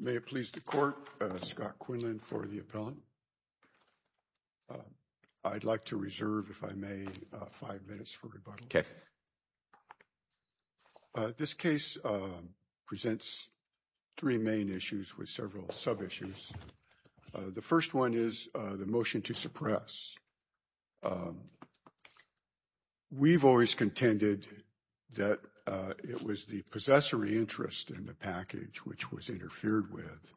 May it please the court, Scott Quinlan for the appellant. I'd like to reserve, if I may, five minutes for rebuttal. This case presents three main issues with several sub-issues. The first one is the motion to suppress. We've always contended that it was the possessory interest in the package which was interfered with.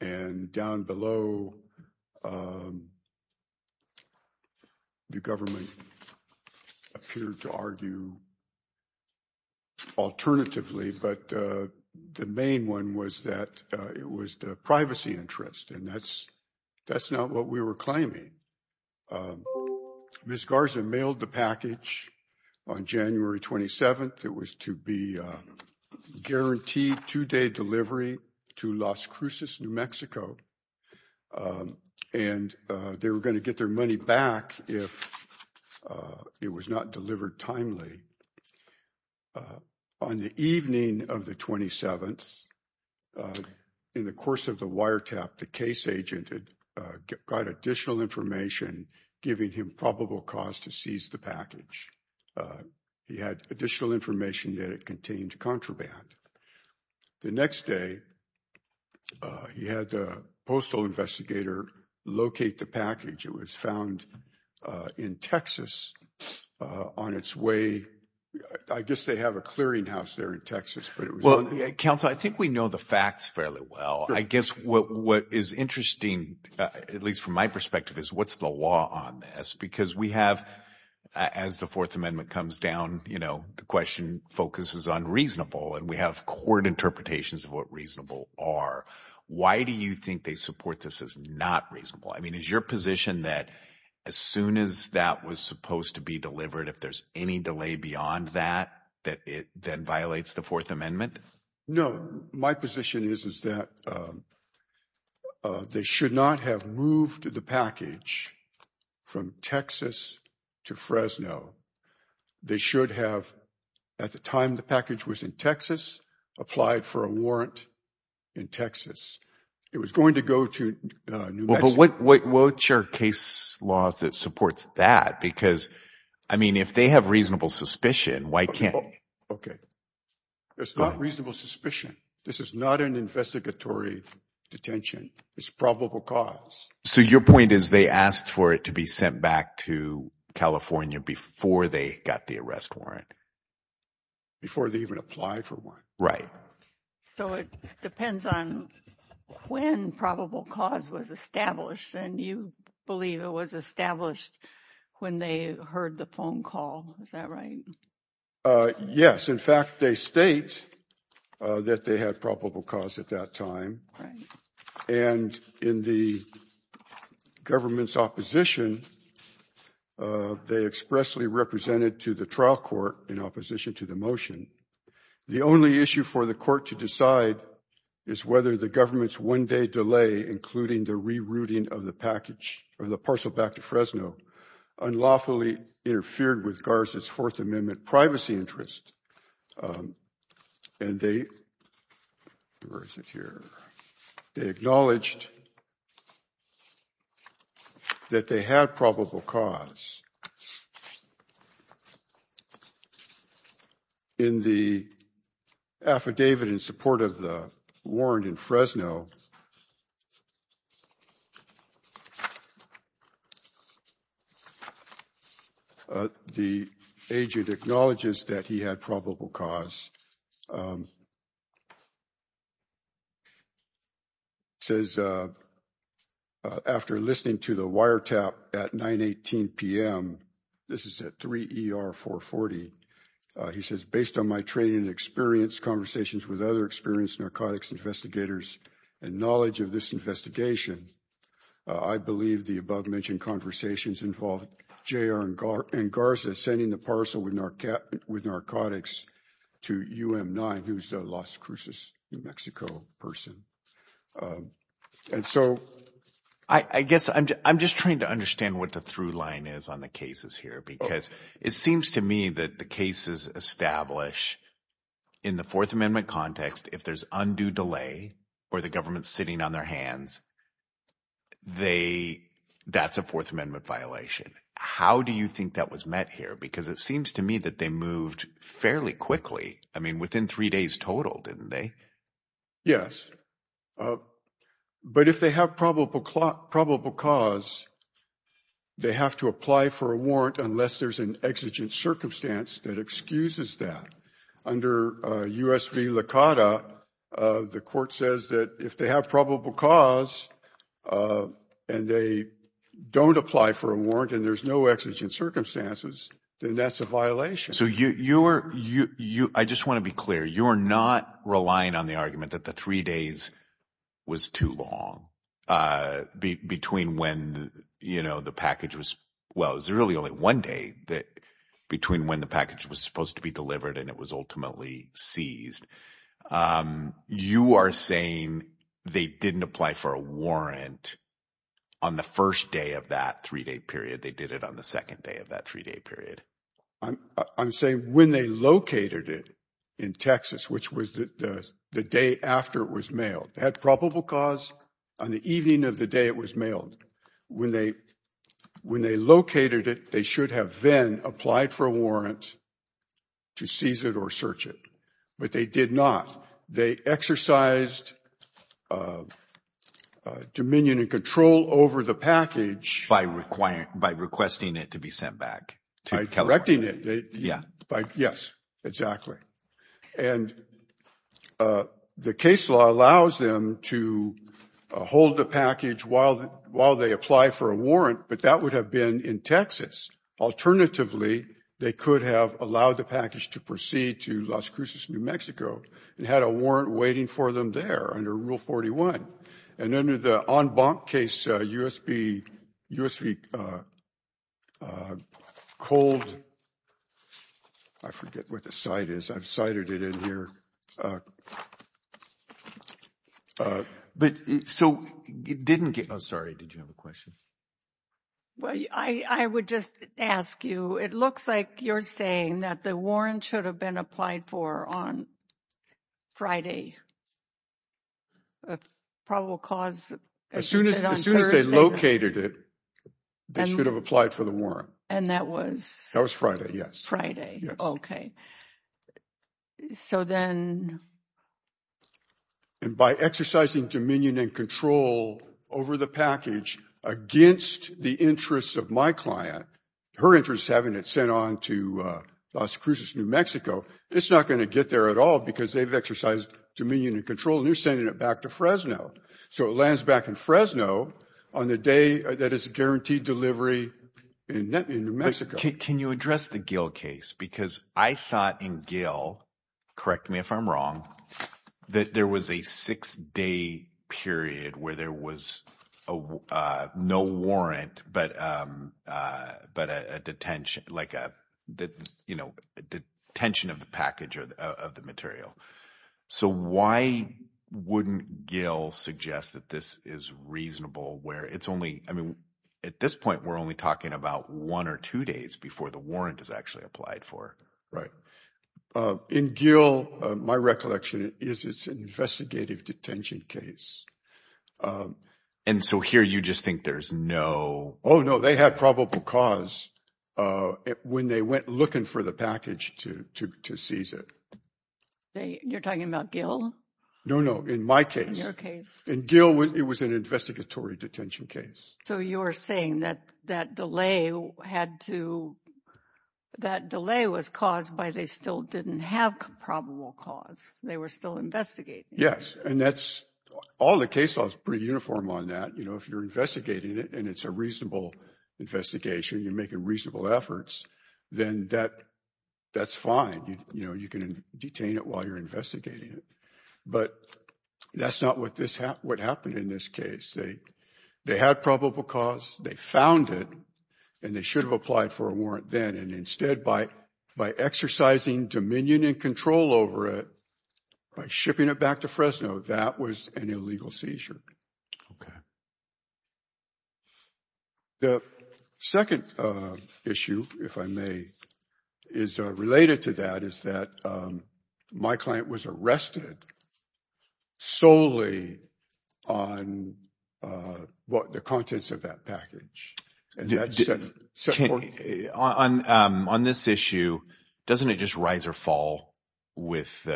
And down below, the government appeared to argue alternatively, but the main one was that it was the privacy interest and that's not what we were claiming. Ms. Garza mailed the package on January 27th. It was to be guaranteed two-day delivery to Las Cruces, New Mexico. And they were going to get their money back if it was not delivered timely. On the evening of the 27th, in the course of the wiretap, the case agent had got additional information giving him probable cause to seize the package. He had additional information that it contained contraband. The next day, he had a postal investigator locate the package. It was found in Texas on its way. I guess they have a clearinghouse there in Texas. Well, counsel, I think we know the facts fairly well. I guess what is interesting, at least from my perspective, is what's the law on this? Because we have, as the Fourth Amendment comes down, the question focuses on reasonable and we have court interpretations of what reasonable are. Why do you think they support this as not reasonable? I mean, is your position that as soon as that was supposed to be delivered, if there's any delay beyond that, that it then violates the Fourth Amendment? No, my position is that they should not have moved the package from Texas to Fresno. They should have, at the time the package was in Texas, applied for a warrant in Texas. It was going to go to New Mexico. But what's your case law that supports that? Because, I mean, if they have reasonable suspicion, why can't they? Okay. It's not reasonable suspicion. This is not an investigatory detention. It's probable cause. So your point is they asked for it to be sent back to California before they got the arrest warrant? Before they even applied for one. Right. So it depends on when probable cause was established. And you believe it was established when they heard the phone call. Is that right? Yes. In fact, they state that they had probable cause at that time. And in the government's opposition, they expressly represented to the trial court in opposition to the motion. The only issue for the court to decide is whether the government's one day delay, including the rerouting of the package or the parcel back to Fresno, unlawfully interfered with Garza's Fourth Amendment privacy interest. And they were secure. They acknowledged that they had probable cause. In the affidavit in support of the warrant in Fresno. The agent acknowledges that he had probable cause. Says after listening to the wiretap at 918 p.m., this is at 3 ER 440. He says, based on my training and experience conversations with other experienced narcotics investigators and knowledge of this investigation, I believe the above mentioned conversations involved J.R. and Garza sending the parcel with narcotics to U.M. 9, who's the Las Cruces, New Mexico person. And so I guess I'm just trying to understand what the through line is on the cases here, because it seems to me that the cases establish in the Fourth Amendment context, if there's undue delay or the government's sitting on their hands. They that's a Fourth Amendment violation. How do you think that was met here? Because it seems to me that they moved fairly quickly. I mean, within three days total, didn't they? Yes. But if they have probable probable cause, they have to apply for a warrant unless there's an exigent circumstance that excuses that under USP Lakata. The court says that if they have probable cause and they don't apply for a warrant and there's no exigent circumstances, then that's a violation. So you are you. I just want to be clear. You are not relying on the argument that the three days was too long between when, you know, the package was. Well, it was really only one day that between when the package was supposed to be delivered and it was ultimately seized. You are saying they didn't apply for a warrant on the first day of that three day period. They did it on the second day of that three day period. I'm saying when they located it in Texas, which was the day after it was mailed, had probable cause on the evening of the day it was mailed. When they when they located it, they should have then applied for a warrant. To seize it or search it. But they did not. They exercised dominion and control over the package by requiring by requesting it to be sent back to directing it. Yeah. Yes, exactly. And the case law allows them to hold the package while while they apply for a warrant. But that would have been in Texas. Alternatively, they could have allowed the package to proceed to Las Cruces, New Mexico, and had a warrant waiting for them there under Rule 41. And under the en banc case, U.S.B. U.S.Cold. I forget what the site is. I've cited it in here. But so it didn't get. I'm sorry. Did you have a question? Well, I would just ask you, it looks like you're saying that the warrant should have been applied for on Friday. A probable cause as soon as soon as they located it, they should have applied for the warrant. And that was that was Friday. Yes. Friday. OK. So then. And by exercising dominion and control over the package against the interests of my client, her interests, having it sent on to Las Cruces, New Mexico, it's not going to get there at all because they've exercised dominion and control. They're sending it back to Fresno. So it lands back in Fresno on the day that is guaranteed delivery in New Mexico. Can you address the Gill case? Because I thought in Gill, correct me if I'm wrong, that there was a six day period where there was no warrant, but but a detention like that, you know, detention of the package of the material. So why wouldn't Gill suggest that this is reasonable where it's only I mean, at this point, we're only talking about one or two days. Before the warrant is actually applied for. Right. In Gill, my recollection is it's an investigative detention case. And so here you just think there's no. Oh, no, they had probable cause when they went looking for the package to to to seize it. You're talking about Gill? No, no. In my case, your case in Gill, it was an investigatory detention case. So you're saying that that delay had to that delay was caused by they still didn't have probable cause. They were still investigating. Yes. And that's all the case laws pretty uniform on that. You know, if you're investigating it and it's a reasonable investigation, you're making reasonable efforts. Then that that's fine. You know, you can detain it while you're investigating it. But that's not what this what happened in this case. They they had probable cause. They found it and they should have applied for a warrant then. And instead, by by exercising dominion and control over it, by shipping it back to Fresno, that was an illegal seizure. OK. The second issue, if I may, is related to that, is that my client was arrested solely on what the contents of that package. And that's on on this issue. Doesn't it just rise or fall with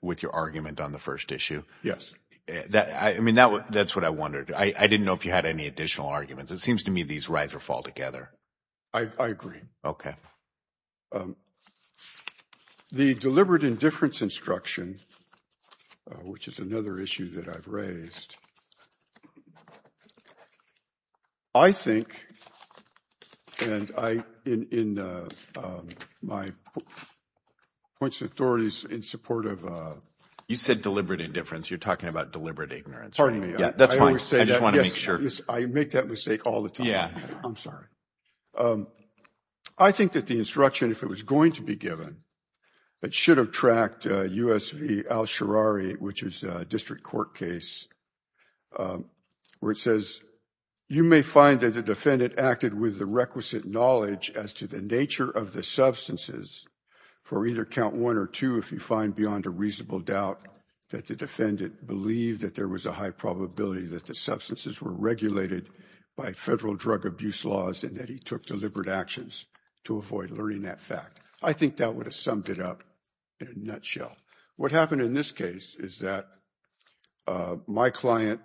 with your argument on the first issue? Yes. I mean, that's what I wondered. I didn't know if you had any additional arguments. It seems to me these rise or fall together. I agree. OK. The deliberate indifference instruction, which is another issue that I've raised. I think. And I in my points, authorities in support of you said deliberate indifference, you're talking about deliberate ignorance. Pardon me. That's why I just want to make sure I make that mistake all the time. Yeah, I'm sorry. I think that the instruction, if it was going to be given, it should have tracked U.S. which is a district court case where it says you may find that the defendant acted with the requisite knowledge as to the nature of the substances for either count one or two. If you find beyond a reasonable doubt that the defendant believed that there was a high probability that the substances were regulated by federal drug abuse laws and that he took deliberate actions to avoid learning that fact. I think that would have summed it up in a nutshell. What happened in this case is that my client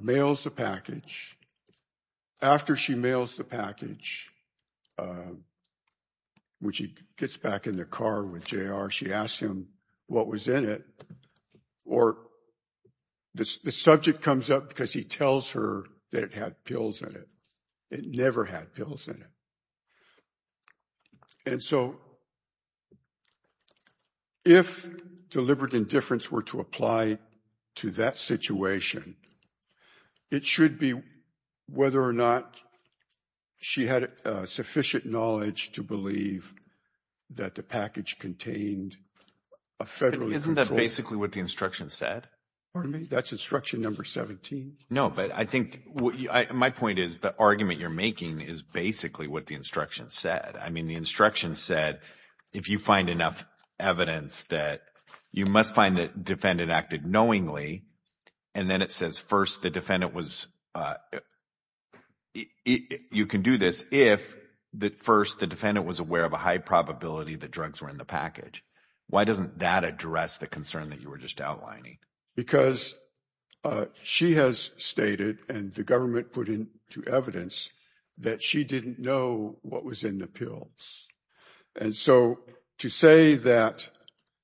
mails a package after she mails the package. Which he gets back in the car with J.R., she asked him what was in it or the subject comes up because he tells her that it had pills in it. It never had pills in it. And so if deliberate indifference were to apply to that situation, it should be whether or not she had sufficient knowledge to believe that the package contained a federal isn't that basically what the instruction said. For me, that's instruction number 17. No, but I think my point is the argument you're making is basically what the instruction said. I mean, the instruction said, if you find enough evidence that you must find that defendant acted knowingly. And then it says, first, the defendant was you can do this if the first the defendant was aware of a high probability that drugs were in the package. Why doesn't that address the concern that you were just outlining? Because she has stated and the government put in to evidence that she didn't know what was in the pills. And so to say that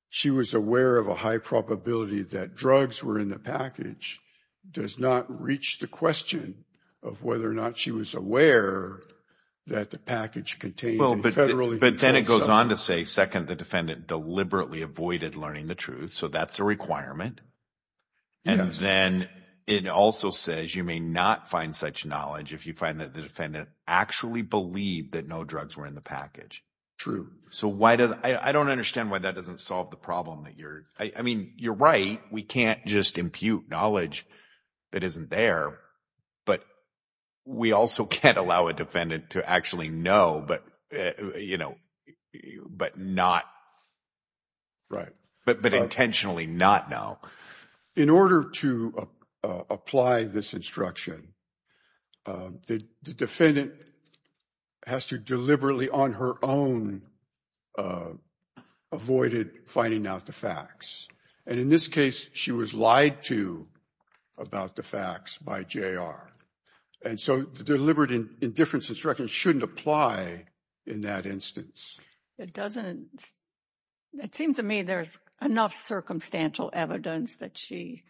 she was aware of a high probability that drugs were in the package does not reach the question of whether or not she was aware that the package contained. But then it goes on to say, second, the defendant deliberately avoided learning the truth. So that's a requirement. And then it also says you may not find such knowledge if you find that the defendant actually believe that no drugs were in the package. True. So why does I don't understand why that doesn't solve the problem that you're I mean, you're right. We can't just impute knowledge that isn't there. But we also can't allow a defendant to actually know. But, you know, but not. Right. But but intentionally not now. In order to apply this instruction, the defendant has to deliberately on her own avoided finding out the facts. And in this case, she was lied to about the facts by J.R. And so the deliberate indifference instruction shouldn't apply in that instance. It doesn't. It seems to me there's enough circumstantial evidence that she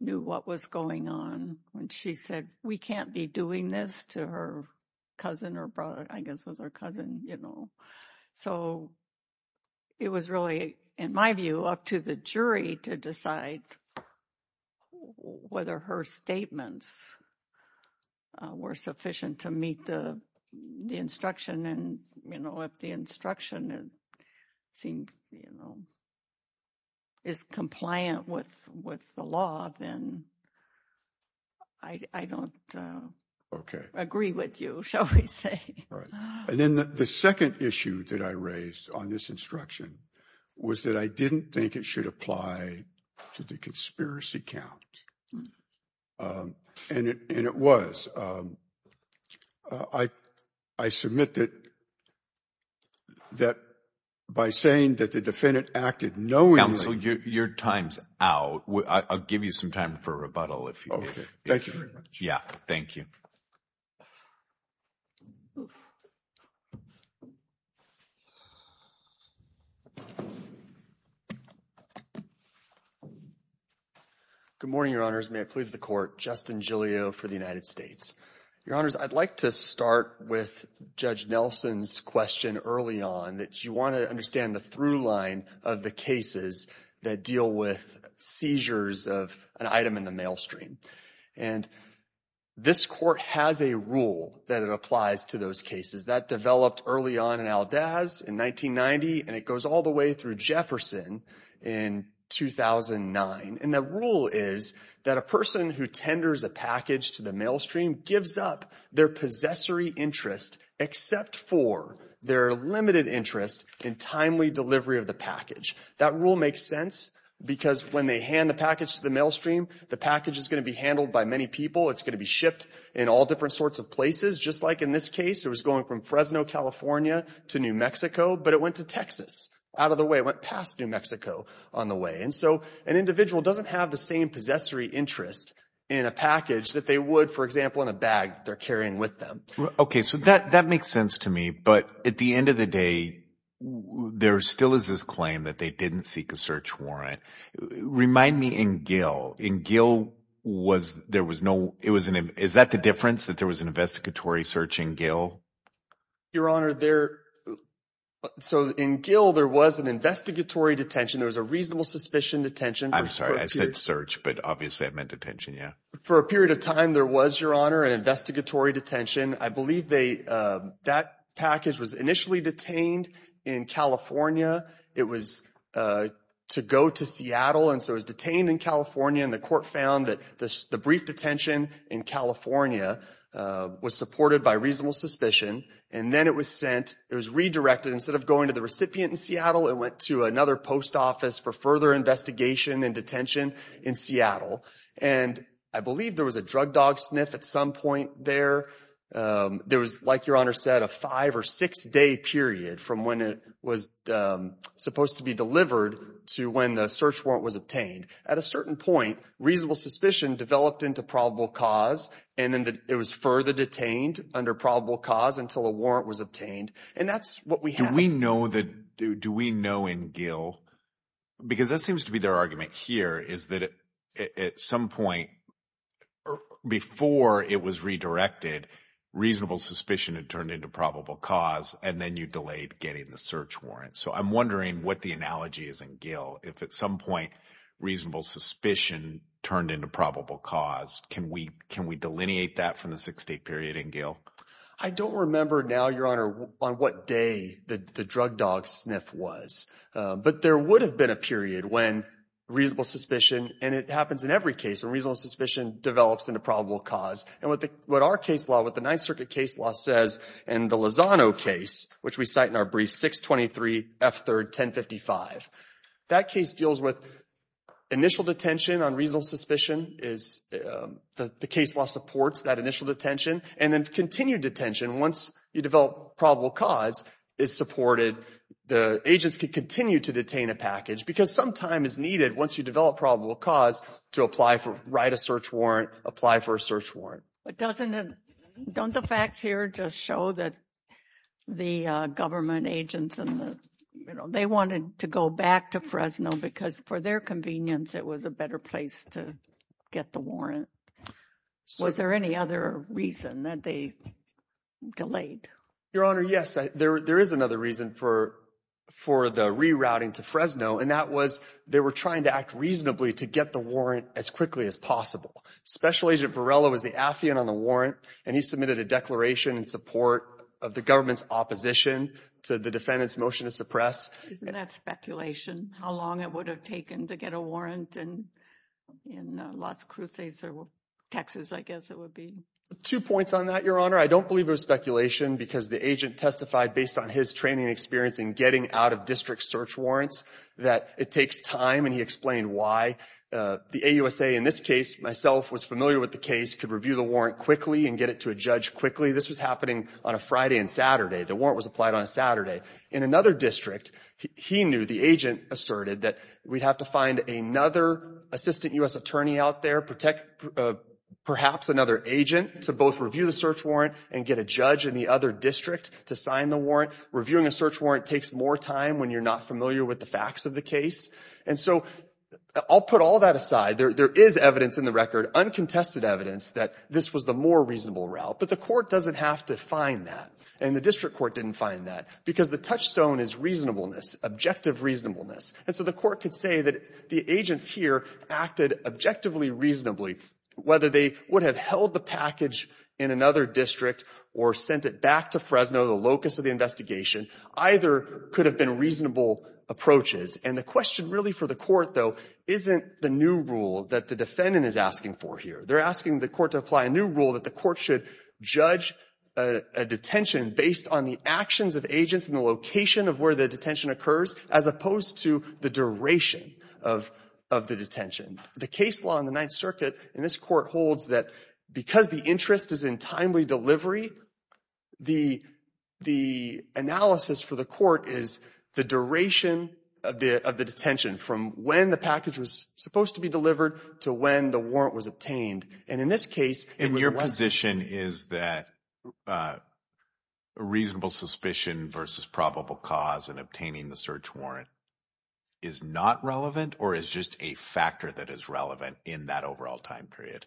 knew what was going on when she said, we can't be doing this to her cousin or brother, I guess, was her cousin, you know, so. It was really, in my view, up to the jury to decide whether her statements were sufficient to meet the instruction. And, you know, if the instruction seemed, you know. Is compliant with with the law, then. I don't agree with you, shall we say. And then the second issue that I raised on this instruction was that I didn't think it should apply to the conspiracy count. And it was. I, I submit that. That by saying that the defendant acted knowingly. Your time's out. I'll give you some time for rebuttal if. Thank you very much. Yeah, thank you. Good morning, your honors. May it please the court. Justin Julio for the United States. Your honors, I'd like to start with Judge Nelson's question early on that you want to understand the through line of the cases that deal with seizures of an item in the mail stream. And this court has a rule that it applies to those cases that developed early on in Al Dazs in 1990. And it goes all the way through Jefferson in 2009. And the rule is that a person who tenders a package to the mail stream gives up their possessory interest, except for their limited interest in timely delivery of the package. That rule makes sense because when they hand the package to the mail stream, the package is going to be handled by many people. It's going to be shipped in all different sorts of places, just like in this case, it was going from Fresno, California, to New Mexico. But it went to Texas out of the way, went past New Mexico on the way. And so an individual doesn't have the same possessory interest in a package that they would, for example, in a bag they're carrying with them. Okay, so that makes sense to me. But at the end of the day, there still is this claim that they didn't seek a search warrant. Remind me in Gill. In Gill, was there was no – is that the difference, that there was an investigatory search in Gill? Your Honor, there – so in Gill, there was an investigatory detention. There was a reasonable suspicion detention. I said search, but obviously I meant detention, yeah. For a period of time, there was, Your Honor, an investigatory detention. I believe they – that package was initially detained in California. It was to go to Seattle, and so it was detained in California, and the court found that the brief detention in California was supported by reasonable suspicion. And then it was sent – it was redirected. Instead of going to the recipient in Seattle, it went to another post office for further investigation and detention in Seattle. And I believe there was a drug dog sniff at some point there. There was, like Your Honor said, a five- or six-day period from when it was supposed to be delivered to when the search warrant was obtained. At a certain point, reasonable suspicion developed into probable cause, and then it was further detained under probable cause until a warrant was obtained. And that's what we have. Do we know that – do we know in Gill? Because that seems to be their argument here is that at some point before it was redirected, reasonable suspicion had turned into probable cause, and then you delayed getting the search warrant. So I'm wondering what the analogy is in Gill. If at some point reasonable suspicion turned into probable cause, can we delineate that from the six-day period in Gill? I don't remember now, Your Honor, on what day the drug dog sniff was. But there would have been a period when reasonable suspicion – and it happens in every case when reasonable suspicion develops into probable cause. And what our case law, what the Ninth Circuit case law says in the Lozano case, which we cite in our brief, 623 F. 3rd. 1055, that case deals with initial detention on reasonable suspicion is – the case law supports that initial detention. And then continued detention, once you develop probable cause, is supported. The agents can continue to detain a package because some time is needed once you develop probable cause to apply for – write a search warrant, apply for a search warrant. But doesn't it – don't the facts here just show that the government agents and the – they wanted to go back to Fresno because for their convenience it was a better place to get the warrant? Was there any other reason that they delayed? Your Honor, yes, there is another reason for the rerouting to Fresno, and that was they were trying to act reasonably to get the warrant as quickly as possible. Special Agent Varela was the affiant on the warrant, and he submitted a declaration in support of the government's opposition to the defendant's motion to suppress. Isn't that speculation, how long it would have taken to get a warrant in Las Cruces or Texas, I guess it would be? Two points on that, Your Honor. I don't believe it was speculation because the agent testified based on his training and experience in getting out-of-district search warrants that it takes time, and he explained why. The AUSA in this case, myself, was familiar with the case, could review the warrant quickly and get it to a judge quickly. This was happening on a Friday and Saturday. The warrant was applied on a Saturday. In another district, he knew, the agent asserted, that we'd have to find another assistant U.S. attorney out there, perhaps another agent, to both review the search warrant and get a judge in the other district to sign the warrant. Reviewing a search warrant takes more time when you're not familiar with the facts of the case. And so I'll put all that aside. There is evidence in the record, uncontested evidence, that this was the more reasonable route, but the court doesn't have to find that, and the district court didn't find that. Because the touchstone is reasonableness, objective reasonableness. And so the court could say that the agents here acted objectively, reasonably. Whether they would have held the package in another district or sent it back to Fresno, the locus of the investigation, either could have been reasonable approaches. And the question really for the court, though, isn't the new rule that the defendant is asking for here. They're asking the court to apply a new rule that the court should judge a detention based on the actions of agents and the location of where the detention occurs, as opposed to the duration of the detention. The case law in the Ninth Circuit in this court holds that because the interest is in timely delivery, the analysis for the court is the duration of the detention from when the package was supposed to be delivered to when the warrant was obtained. And your position is that reasonable suspicion versus probable cause in obtaining the search warrant is not relevant or is just a factor that is relevant in that overall time period?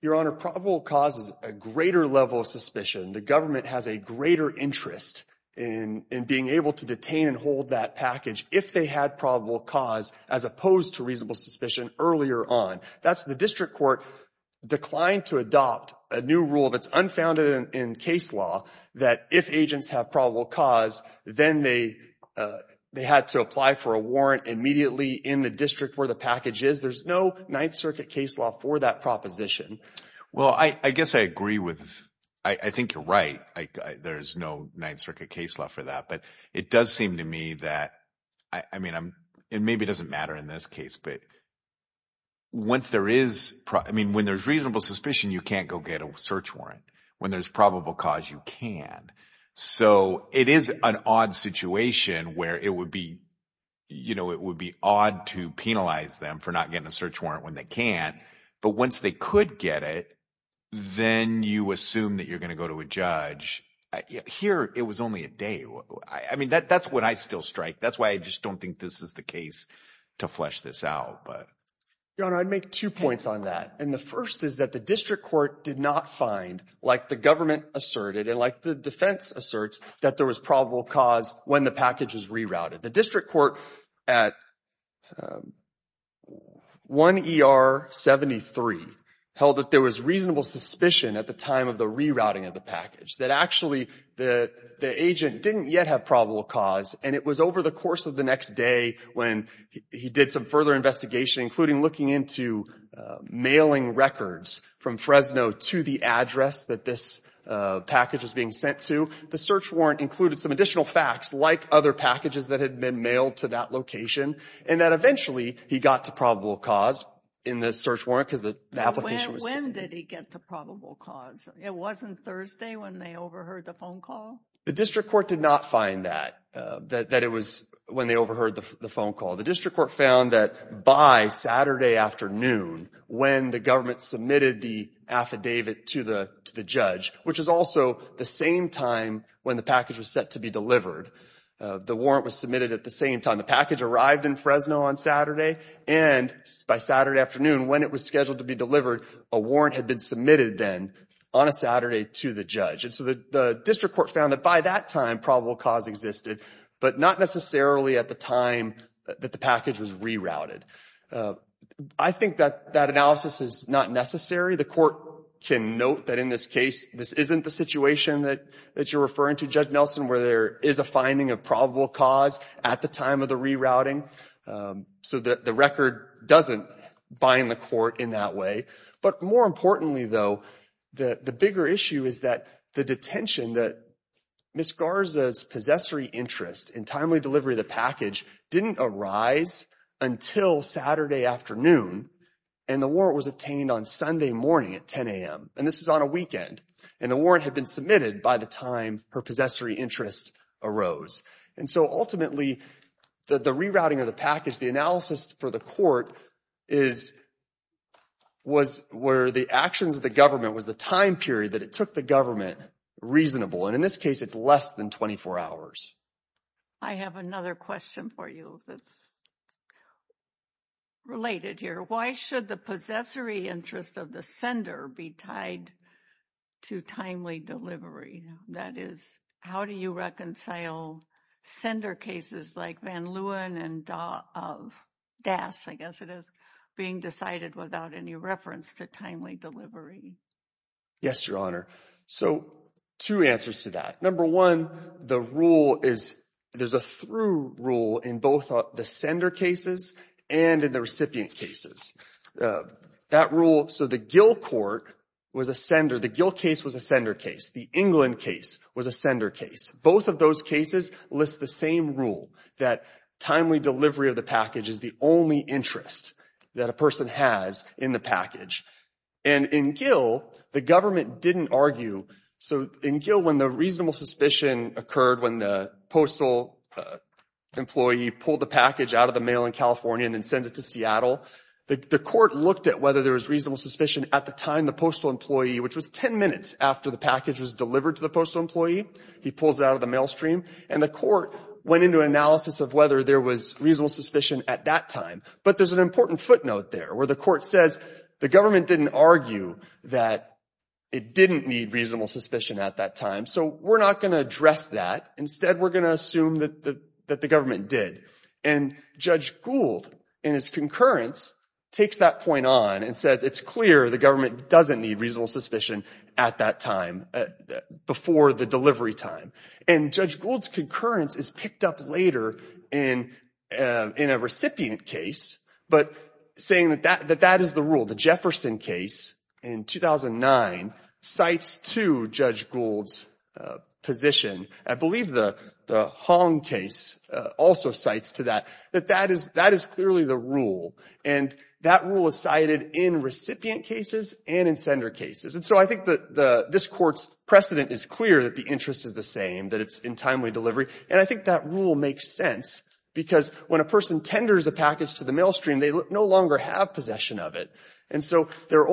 Your Honor, probable cause is a greater level of suspicion. The government has a greater interest in being able to detain and hold that package if they had probable cause as opposed to reasonable suspicion earlier on. That's the district court declined to adopt a new rule that's unfounded in case law that if agents have probable cause, then they had to apply for a warrant immediately in the district where the package is. There's no Ninth Circuit case law for that proposition. Well, I guess I agree with – I think you're right. There's no Ninth Circuit case law for that. But it does seem to me that – I mean, it maybe doesn't matter in this case. But once there is – I mean, when there's reasonable suspicion, you can't go get a search warrant. When there's probable cause, you can. So it is an odd situation where it would be odd to penalize them for not getting a search warrant when they can. But once they could get it, then you assume that you're going to go to a judge. Here, it was only a day. I mean that's what I still strike. That's why I just don't think this is the case to flesh this out. Your Honor, I'd make two points on that. And the first is that the district court did not find, like the government asserted and like the defense asserts, that there was probable cause when the package was rerouted. The district court at 1 ER 73 held that there was reasonable suspicion at the time of the rerouting of the package, that actually the agent didn't yet have probable cause, and it was over the course of the next day when he did some further investigation, including looking into mailing records from Fresno to the address that this package was being sent to. The search warrant included some additional facts, like other packages that had been mailed to that location, and that eventually he got to probable cause in the search warrant because the application was sent. When did he get to probable cause? It wasn't Thursday when they overheard the phone call? The district court did not find that, that it was when they overheard the phone call. The district court found that by Saturday afternoon when the government submitted the affidavit to the judge, which is also the same time when the package was set to be delivered. The warrant was submitted at the same time the package arrived in Fresno on Saturday, and by Saturday afternoon when it was scheduled to be delivered, a warrant had been submitted then on a Saturday to the judge. And so the district court found that by that time probable cause existed, but not necessarily at the time that the package was rerouted. I think that that analysis is not necessary. The court can note that in this case this isn't the situation that you're referring to, Judge Nelson, where there is a finding of probable cause at the time of the rerouting. So the record doesn't bind the court in that way. But more importantly, though, the bigger issue is that the detention that Ms. Garza's possessory interest in timely delivery of the package didn't arise until Saturday afternoon, and the warrant was obtained on Sunday morning at 10 a.m. And this is on a weekend. And the warrant had been submitted by the time her possessory interest arose. And so ultimately the rerouting of the package, the analysis for the court, was where the actions of the government was the time period that it took the government reasonable. And in this case it's less than 24 hours. I have another question for you that's related here. Why should the possessory interest of the sender be tied to timely delivery? That is, how do you reconcile sender cases like Van Leeuwen and Das, I guess it is, being decided without any reference to timely delivery? Yes, Your Honor. So two answers to that. Number one, the rule is there's a through rule in both the sender cases and in the recipient cases. That rule, so the Gill court was a sender. The Gill case was a sender case. The England case was a sender case. Both of those cases list the same rule, that timely delivery of the package is the only interest that a person has in the package. And in Gill, the government didn't argue. So in Gill when the reasonable suspicion occurred when the postal employee pulled the package out of the mail in California and then sends it to Seattle, the court looked at whether there was reasonable suspicion at the time the postal employee, which was ten minutes after the package was delivered to the postal employee, he pulls it out of the mail stream, and the court went into analysis of whether there was reasonable suspicion at that time. But there's an important footnote there where the court says the government didn't argue that it didn't need reasonable suspicion at that time. So we're not going to address that. Instead, we're going to assume that the government did. And Judge Gould, in his concurrence, takes that point on and says it's clear the government doesn't need reasonable suspicion at that time, before the delivery time. And Judge Gould's concurrence is picked up later in a recipient case, but saying that that is the rule. The Jefferson case in 2009 cites to Judge Gould's position. I believe the Hong case also cites to that, that that is clearly the rule. And that rule is cited in recipient cases and in sender cases. And so I think that this court's precedent is clear that the interest is the same, that it's in timely delivery. And I think that rule makes sense because when a person tenders a package to the mail stream, they no longer have possession of it. And so the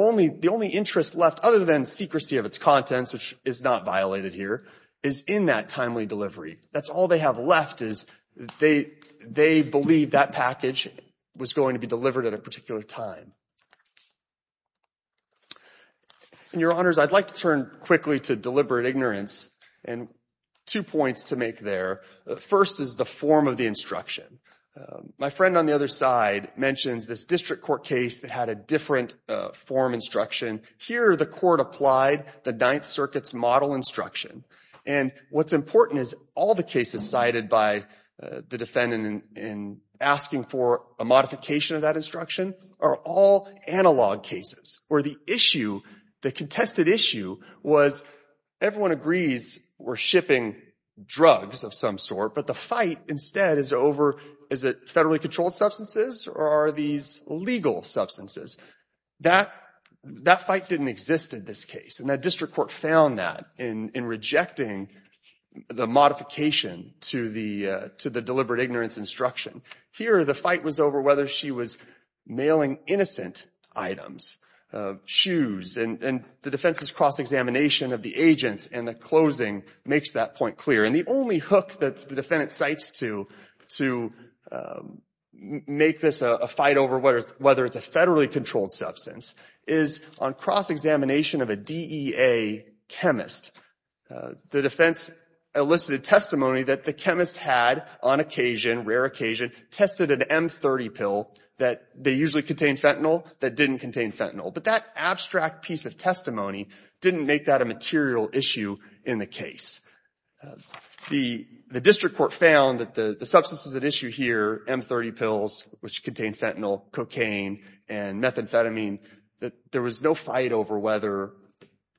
only interest left, other than secrecy of its contents, which is not violated here, is in that timely delivery. That's all they have left is they believe that package was going to be delivered at a particular time. And, Your Honors, I'd like to turn quickly to deliberate ignorance, and two points to make there. The first is the form of the instruction. My friend on the other side mentions this district court case that had a different form instruction. Here, the court applied the Ninth Circuit's model instruction. And what's important is all the cases cited by the defendant in asking for a modification of that instruction are all analog cases where the issue, the contested issue, was everyone agrees we're shipping drugs of some sort, but the fight instead is over is it federally controlled substances or are these legal substances? That fight didn't exist in this case, and that district court found that in rejecting the modification to the deliberate ignorance instruction. Here, the fight was over whether she was mailing innocent items, shoes, and the defense's cross-examination of the agents in the closing makes that point clear. And the only hook that the defendant cites to make this a fight over whether it's a federally controlled substance is on cross-examination of a DEA chemist. The defense elicited testimony that the chemist had on occasion, rare occasion, tested an M30 pill that they usually contain fentanyl that didn't contain fentanyl. But that abstract piece of testimony didn't make that a material issue in the case. The district court found that the substances at issue here, M30 pills, which contain fentanyl, cocaine, and methamphetamine, that there was no fight over whether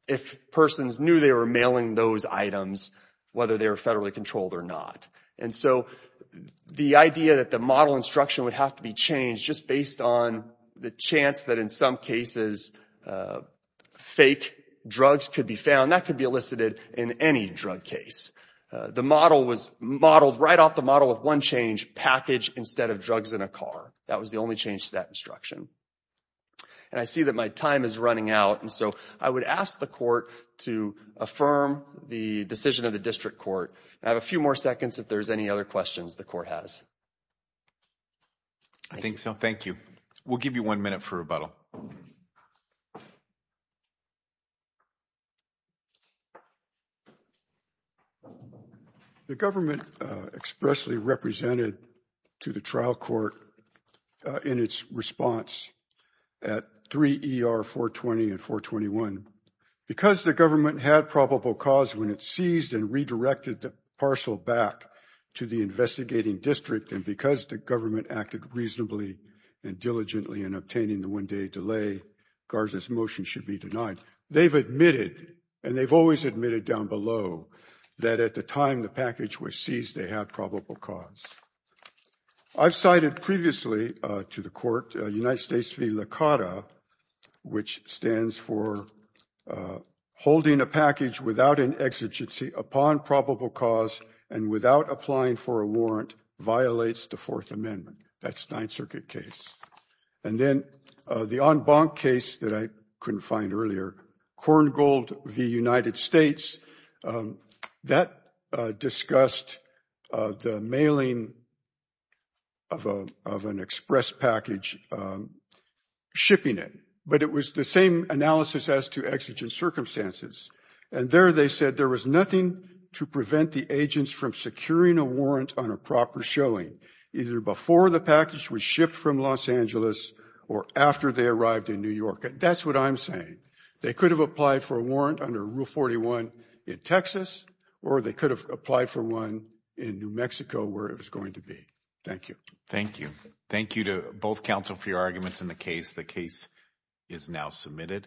if persons knew they were mailing those items, whether they were federally controlled or not. And so the idea that the model instruction would have to be changed just based on the chance that in some cases fake drugs could be found, that could be elicited in any drug case. The model was modeled right off the model with one change, package instead of drugs in a car. That was the only change to that instruction. And I see that my time is running out. And so I would ask the court to affirm the decision of the district court. I have a few more seconds if there's any other questions the court has. I think so. Thank you. We'll give you one minute for rebuttal. Thank you. The government expressly represented to the trial court in its response at 3 ER 420 and 421, because the government had probable cause when it seized and redirected the parcel back to the investigating district. And because the government acted reasonably and diligently in obtaining the one day delay, Garza's motion should be denied. They've admitted and they've always admitted down below that at the time the package was seized, they had probable cause. I've cited previously to the court United States v. which stands for holding a package without an exigency upon probable cause and without applying for a warrant violates the Fourth Amendment. That's Ninth Circuit case. And then the en banc case that I couldn't find earlier, Korngold v. United States, that discussed the mailing of an express package, shipping it. But it was the same analysis as to exigent circumstances. And there they said there was nothing to prevent the agents from securing a warrant on a proper showing, either before the package was shipped from Los Angeles or after they arrived in New York. And that's what I'm saying. They could have applied for a warrant under Rule 41 in Texas or they could have applied for one in New Mexico where it was going to be. Thank you. Thank you. Thank you to both counsel for your arguments in the case. The case is now submitted.